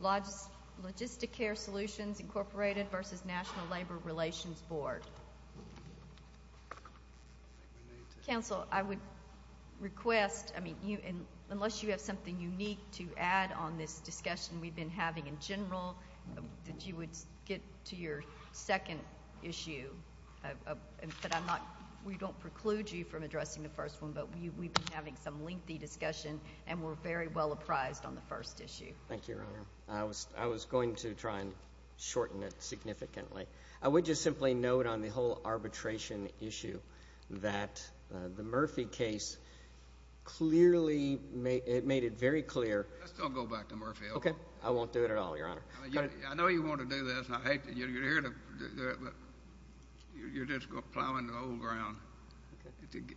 LogistiCare Solutions, Inc. v. National Labor Relations Board. Council, I would request, I mean, unless you have something unique to add on this discussion we've been having in general, that you would get to your second issue. But I'm not, we don't preclude you from addressing the first one, but we've been having some lengthy discussion and we're very well apprised on the first issue. Thank you, Your Honor. I was going to try and shorten it significantly. I would just simply note on the whole arbitration issue that the Murphy case clearly, it made it very clear. Let's still go back to Murphy, okay? Okay. I won't do it at all, Your Honor. I know you want to do this and I hate that you're here to do it, but you're just plowing the old ground.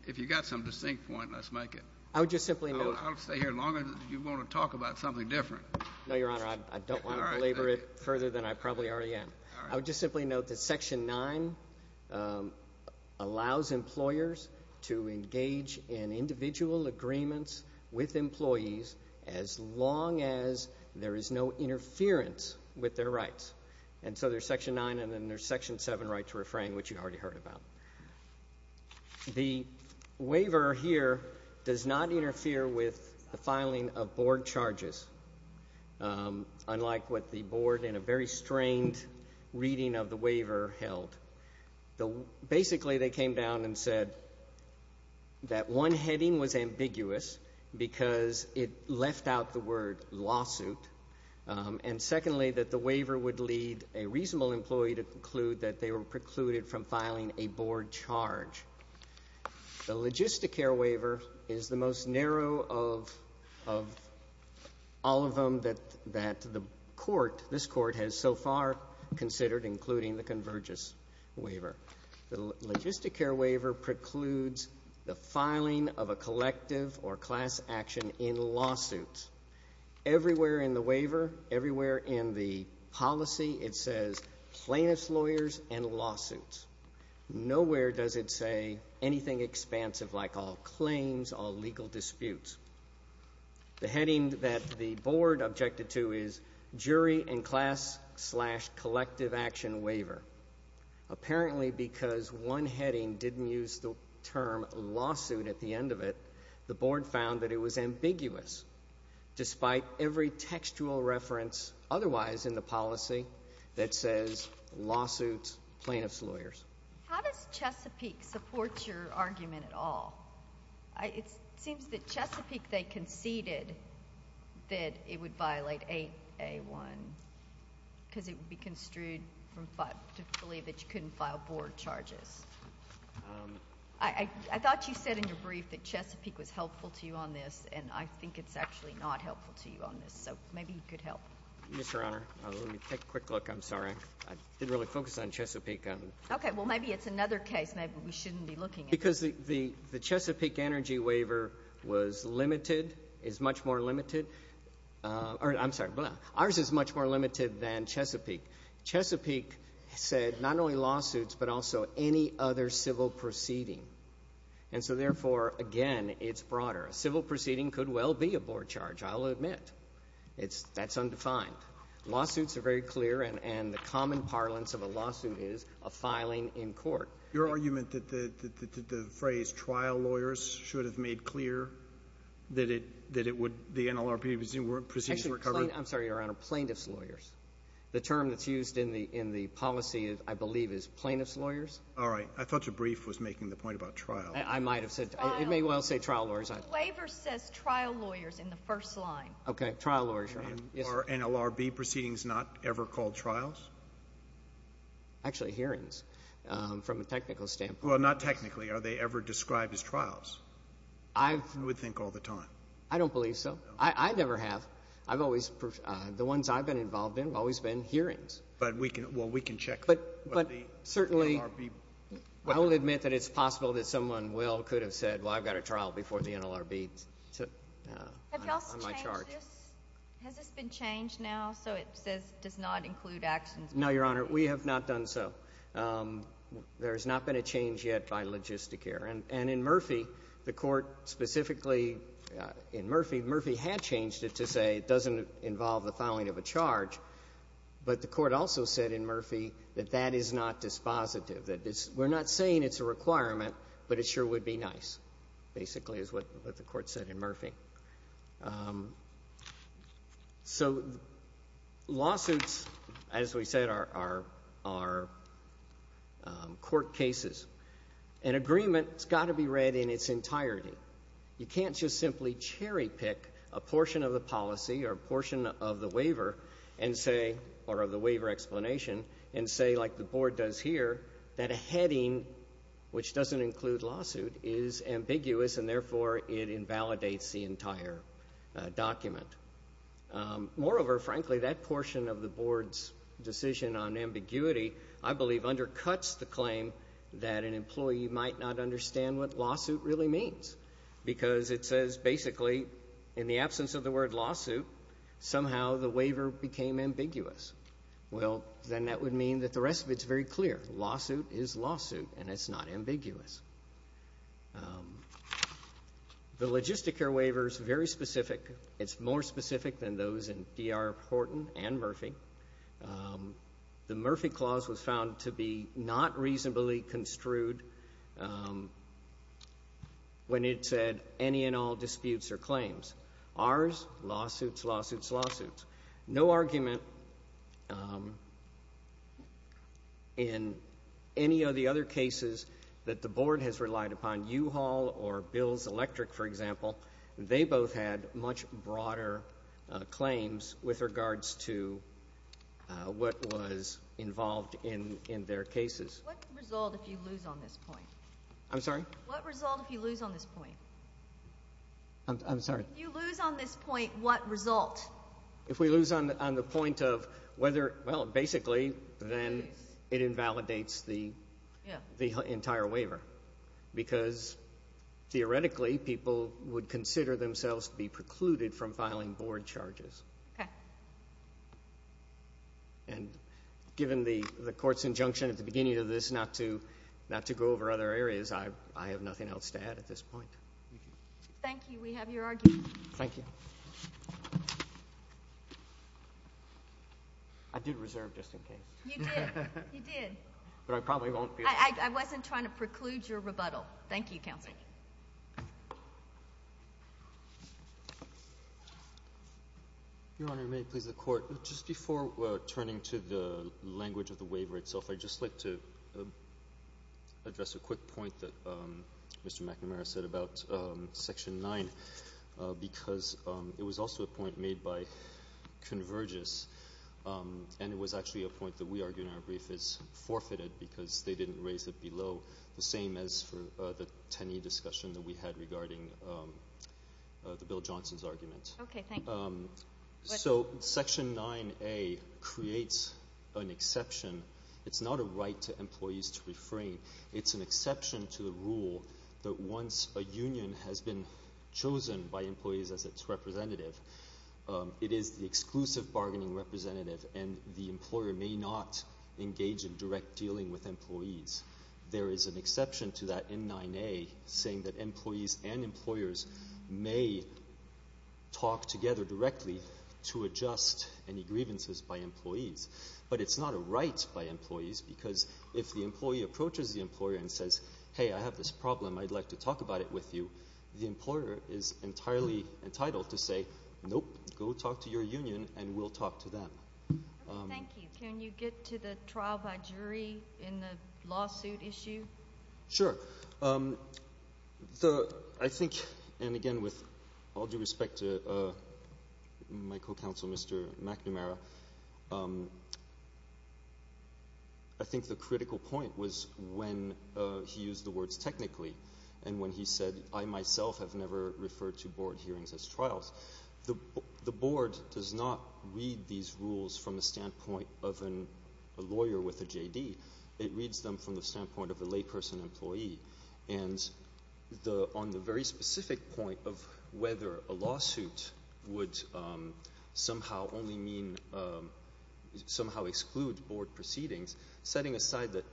If you've got some distinct point, let's make it. I would just simply note I'll stay here as long as you want to talk about something different. No, Your Honor, I don't want to belabor it further than I probably already am. All right. I would just simply note that Section 9 allows employers to engage in individual agreements with employees as long as there is no interference with their rights. And so there's Section 9 and then there's Section 7, right to refrain, which you've already heard about. The waiver here does not interfere with the filing of board charges, unlike what the board in a very strained reading of the waiver held. Basically, they came down and said that one heading was ambiguous because it left out the word lawsuit, and secondly, that the waiver would lead a reasonable employee to conclude that they were precluded from filing a board charge. The logistic care waiver is the most narrow of all of them that the court, this court, has so far considered, including the convergence waiver. The logistic care waiver precludes the filing of a collective or class action in lawsuits. Everywhere in the waiver, everywhere in the policy, it says plaintiff's lawyers and lawsuits. Nowhere does it say anything expansive like all claims, all legal disputes. The heading that the board objected to is jury and class slash collective action waiver. Apparently, because one heading didn't use the term lawsuit at the end of it, the board found that it was ambiguous. Despite every textual reference otherwise in the policy that says lawsuits, plaintiff's lawyers. How does Chesapeake support your argument at all? It seems that Chesapeake, they conceded that it would violate 8A1 because it would be construed to believe that you couldn't file board charges. I thought you said in your brief that Chesapeake was helpful to you on this, and I think it's actually not helpful to you on this. So maybe you could help. Mr. Honor, let me take a quick look. I'm sorry. I didn't really focus on Chesapeake. Okay. Well, maybe it's another case maybe we shouldn't be looking at. Because the Chesapeake energy waiver was limited, is much more limited. I'm sorry. Ours is much more limited than Chesapeake. Chesapeake said not only lawsuits, but also any other civil proceeding. And so therefore, again, it's broader. A civil proceeding could well be a board charge, I'll admit. That's undefined. Lawsuits are very clear, and the common parlance of a lawsuit is a filing in court. Your argument that the phrase trial lawyers should have made clear that it would the NLRP proceedings were covered? Actually, I'm sorry, Your Honor, plaintiff's lawyers. The term that's used in the policy, I believe, is plaintiff's lawyers. All right. I thought your brief was making the point about trial. I might have said. It may well say trial lawyers. The waiver says trial lawyers in the first line. Okay. Trial lawyers, Your Honor. Are NLRP proceedings not ever called trials? Actually, hearings from a technical standpoint. Well, not technically. Are they ever described as trials? I would think all the time. I don't believe so. I never have. The ones I've been involved in have always been hearings. Well, we can check. But certainly, I'll admit that it's possible that someone well could have said, well, I've got a trial before the NLRB on my charge. Has this been changed now so it says it does not include actions? No, Your Honor. We have not done so. There has not been a change yet by logistic here. And in Murphy, the court specifically in Murphy, Murphy had changed it to say it doesn't involve the filing of a charge. But the court also said in Murphy that that is not dispositive. We're not saying it's a requirement, but it sure would be nice, basically, is what the court said in Murphy. So lawsuits, as we said, are court cases. An agreement has got to be read in its entirety. You can't just simply cherry pick a portion of the policy or a portion of the waiver and say, or of the waiver explanation, and say, like the Board does here, that a heading which doesn't include lawsuit is ambiguous and therefore it invalidates the entire document. Moreover, frankly, that portion of the Board's decision on ambiguity, I believe, undercuts the claim that an employee might not understand what lawsuit really means because it says, basically, in the absence of the word lawsuit, somehow the waiver became ambiguous. Well, then that would mean that the rest of it is very clear. Lawsuit is lawsuit, and it's not ambiguous. The logistic here waiver is very specific. It's more specific than those in D.R. Horton and Murphy. The Murphy Clause was found to be not reasonably construed when it said any and all disputes are claims. Ours, lawsuits, lawsuits, lawsuits. No argument in any of the other cases that the Board has relied upon. U-Haul or Bills Electric, for example, they both had much broader claims with regards to what was involved in their cases. What result if you lose on this point? I'm sorry? What result if you lose on this point? I'm sorry? If you lose on this point, what result? If we lose on the point of whether, well, basically, then it invalidates the entire waiver because theoretically people would consider themselves to be precluded from filing Board charges. Okay. And given the Court's injunction at the beginning of this not to go over other areas, I have nothing else to add at this point. Thank you. We have your argument. Thank you. I did reserve just in case. You did. You did. But I probably won't be able to. I wasn't trying to preclude your rebuttal. Thank you, Counsel. Your Honor, may it please the Court, just before turning to the language of the waiver itself, I'd just like to address a quick point that Mr. McNamara said about Section 9 because it was also a point made by Convergys, and it was actually a point that we argue in our brief is forfeited because they didn't raise it below the same as for the Tenney discussion that we had regarding the Bill Johnson's argument. Okay. Thank you. So Section 9A creates an exception. It's not a right to employees to refrain. It's an exception to the rule that once a union has been chosen by employees as its representative, it is the exclusive bargaining representative, and the employer may not engage in direct dealing with employees. There is an exception to that in 9A saying that employees and employers may talk together directly to adjust any grievances by employees. But it's not a right by employees because if the employee approaches the employer and says, hey, I have this problem, I'd like to talk about it with you, the employer is entirely entitled to say, nope, go talk to your union and we'll talk to them. Thank you. Can you get to the trial by jury in the lawsuit issue? Sure. I think, and again, with all due respect to my co-counsel, Mr. McNamara, I think the critical point was when he used the words technically and when he said I myself have never referred to board hearings as trials. The board does not read these rules from the standpoint of a lawyer with a JD. It reads them from the standpoint of a layperson employee. And on the very specific point of whether a lawsuit would somehow only mean, somehow exclude board proceedings, setting aside that,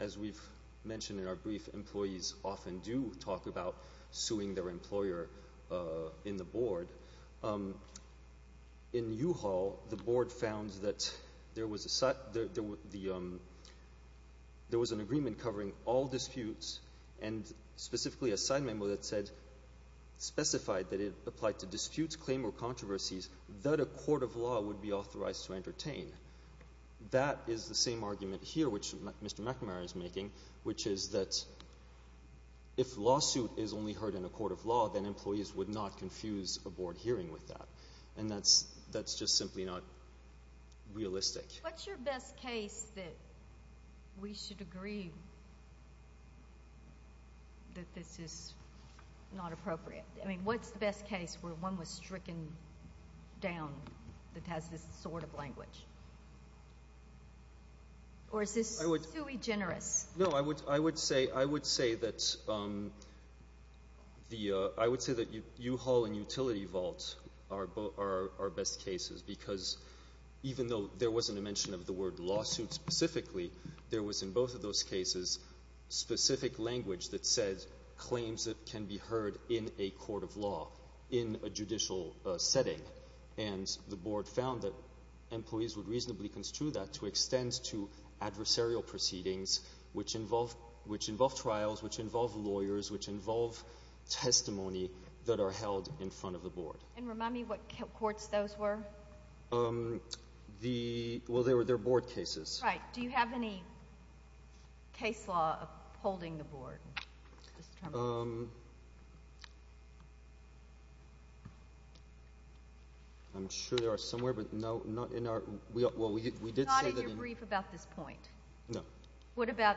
as we've mentioned in our brief, employees often do talk about suing their employer in the board. In U-Haul, the board found that there was an agreement covering all disputes and specifically a side memo that said, specified that it applied to disputes, claims, or controversies that a court of law would be authorized to entertain. That is the same argument here, which Mr. McNamara is making, which is that if a lawsuit is only heard in a court of law, then employees would not confuse a board hearing with that. And that's just simply not realistic. What's your best case that we should agree that this is not appropriate? I mean, what's the best case where one was stricken down that has this sort of language? Or is this sui generis? No, I would say that U-Haul and Utility Vault are best cases because even though there wasn't a mention of the word lawsuit specifically, there was in both of those cases specific language that said in a judicial setting. And the board found that employees would reasonably construe that to extend to adversarial proceedings, which involve trials, which involve lawyers, which involve testimony that are held in front of the board. And remind me what courts those were. Well, they were board cases. Right. Do you have any case law holding the board? I'm sure there are somewhere, but no. Not in your brief about this point? No. What about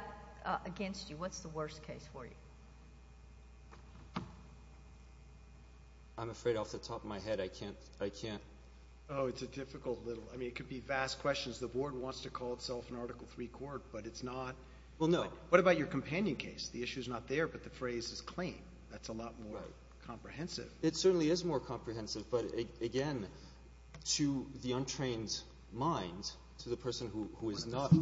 against you? What's the worst case for you? I'm afraid off the top of my head I can't. Oh, it's a difficult little one. I mean, it could be vast questions. The board wants to call itself an Article III court, but it's not. Well, no. What about your companion case? The issue is not there, but the phrase is claim. That's a lot more comprehensive. It certainly is more comprehensive, but again, to the untrained mind, to the person who is not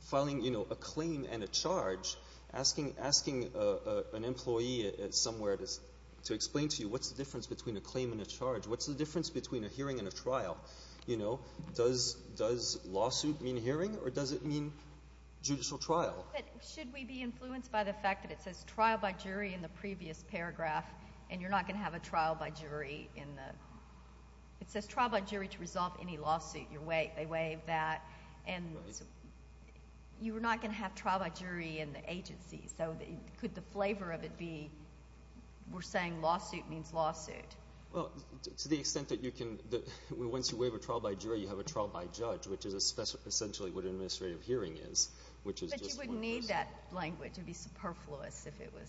filing a claim and a charge, asking an employee somewhere to explain to you what's the difference What's the difference between a hearing and a trial? Does lawsuit mean hearing or does it mean judicial trial? Should we be influenced by the fact that it says trial by jury in the previous paragraph and you're not going to have a trial by jury in the It says trial by jury to resolve any lawsuit. They waive that, and you're not going to have trial by jury in the agency, so could the flavor of it be we're saying lawsuit means lawsuit? Well, to the extent that once you waive a trial by jury, you have a trial by judge, which is essentially what an administrative hearing is. But you wouldn't need that language. It would be superfluous if it was.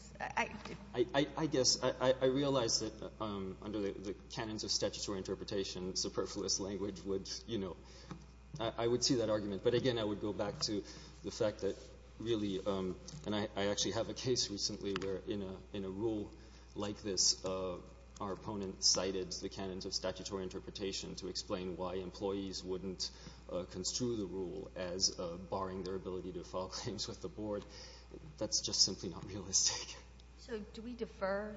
I guess. I realize that under the canons of statutory interpretation, superfluous language would, you know, I would see that argument, but again, I would go back to the fact that really, and I actually have a case recently where in a rule like this, our opponent cited the canons of statutory interpretation to explain why employees wouldn't construe the rule as barring their ability to file claims with the board. That's just simply not realistic. So do we defer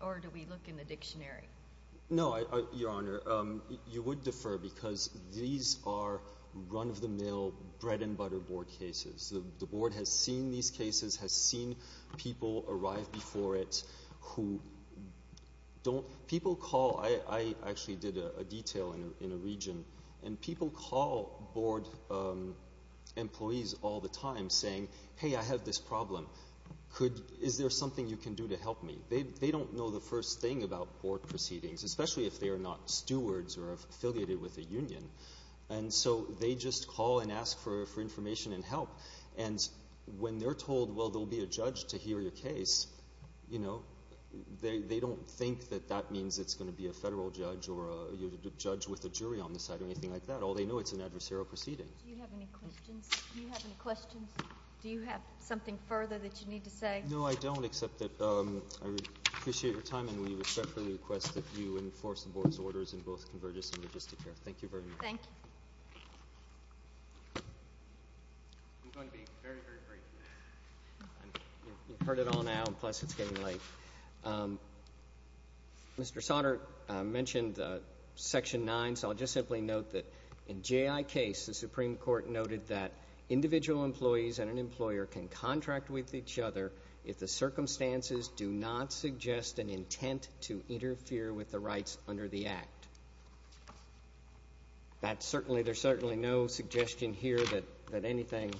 or do we look in the dictionary? No, Your Honor. You would defer because these are run-of-the-mill bread-and-butter board cases. The board has seen these cases, has seen people arrive before it who don't. People call. I actually did a detail in a region, and people call board employees all the time saying, hey, I have this problem. Is there something you can do to help me? They don't know the first thing about board proceedings, especially if they are not stewards or affiliated with a union. And so they just call and ask for information and help. And when they're told, well, there will be a judge to hear your case, you know, they don't think that that means it's going to be a federal judge or a judge with a jury on the side or anything like that. All they know it's an adversarial proceeding. Do you have any questions? Do you have something further that you need to say? No, I don't, except that I appreciate your time and we respectfully request that you enforce the board's orders in both convergence and logistic care. Thank you very much. Thank you. I'm going to be very, very brief. You've heard it all now, plus it's getting late. Mr. Sautner mentioned Section 9, so I'll just simply note that in J.I. case the Supreme Court noted that individual employees and an employer can contract with each other if the circumstances do not suggest an intent to interfere with the rights under the Act. There's certainly no suggestion here that anything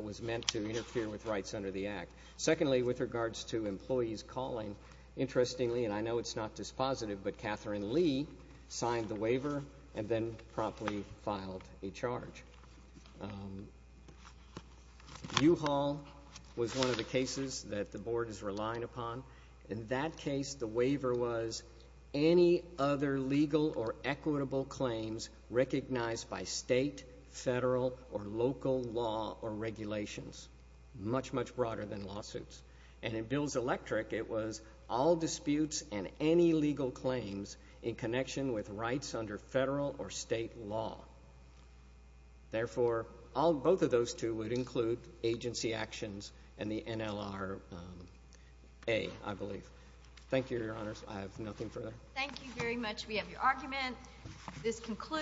was meant to interfere with rights under the Act. Secondly, with regards to employees calling, interestingly, and I know it's not dispositive, but Catherine Lee signed the waiver and then promptly filed a charge. U-Haul was one of the cases that the board is relying upon. In that case, the waiver was any other legal or equitable claims recognized by state, federal, or local law or regulations, much, much broader than lawsuits. And in Bills Electric, it was all disputes and any legal claims in connection with rights under federal or state law. Therefore, both of those two would include agency actions and the NLRA, I believe. Thank you, Your Honors. I have nothing further. Thank you very much. We have your argument. This concludes.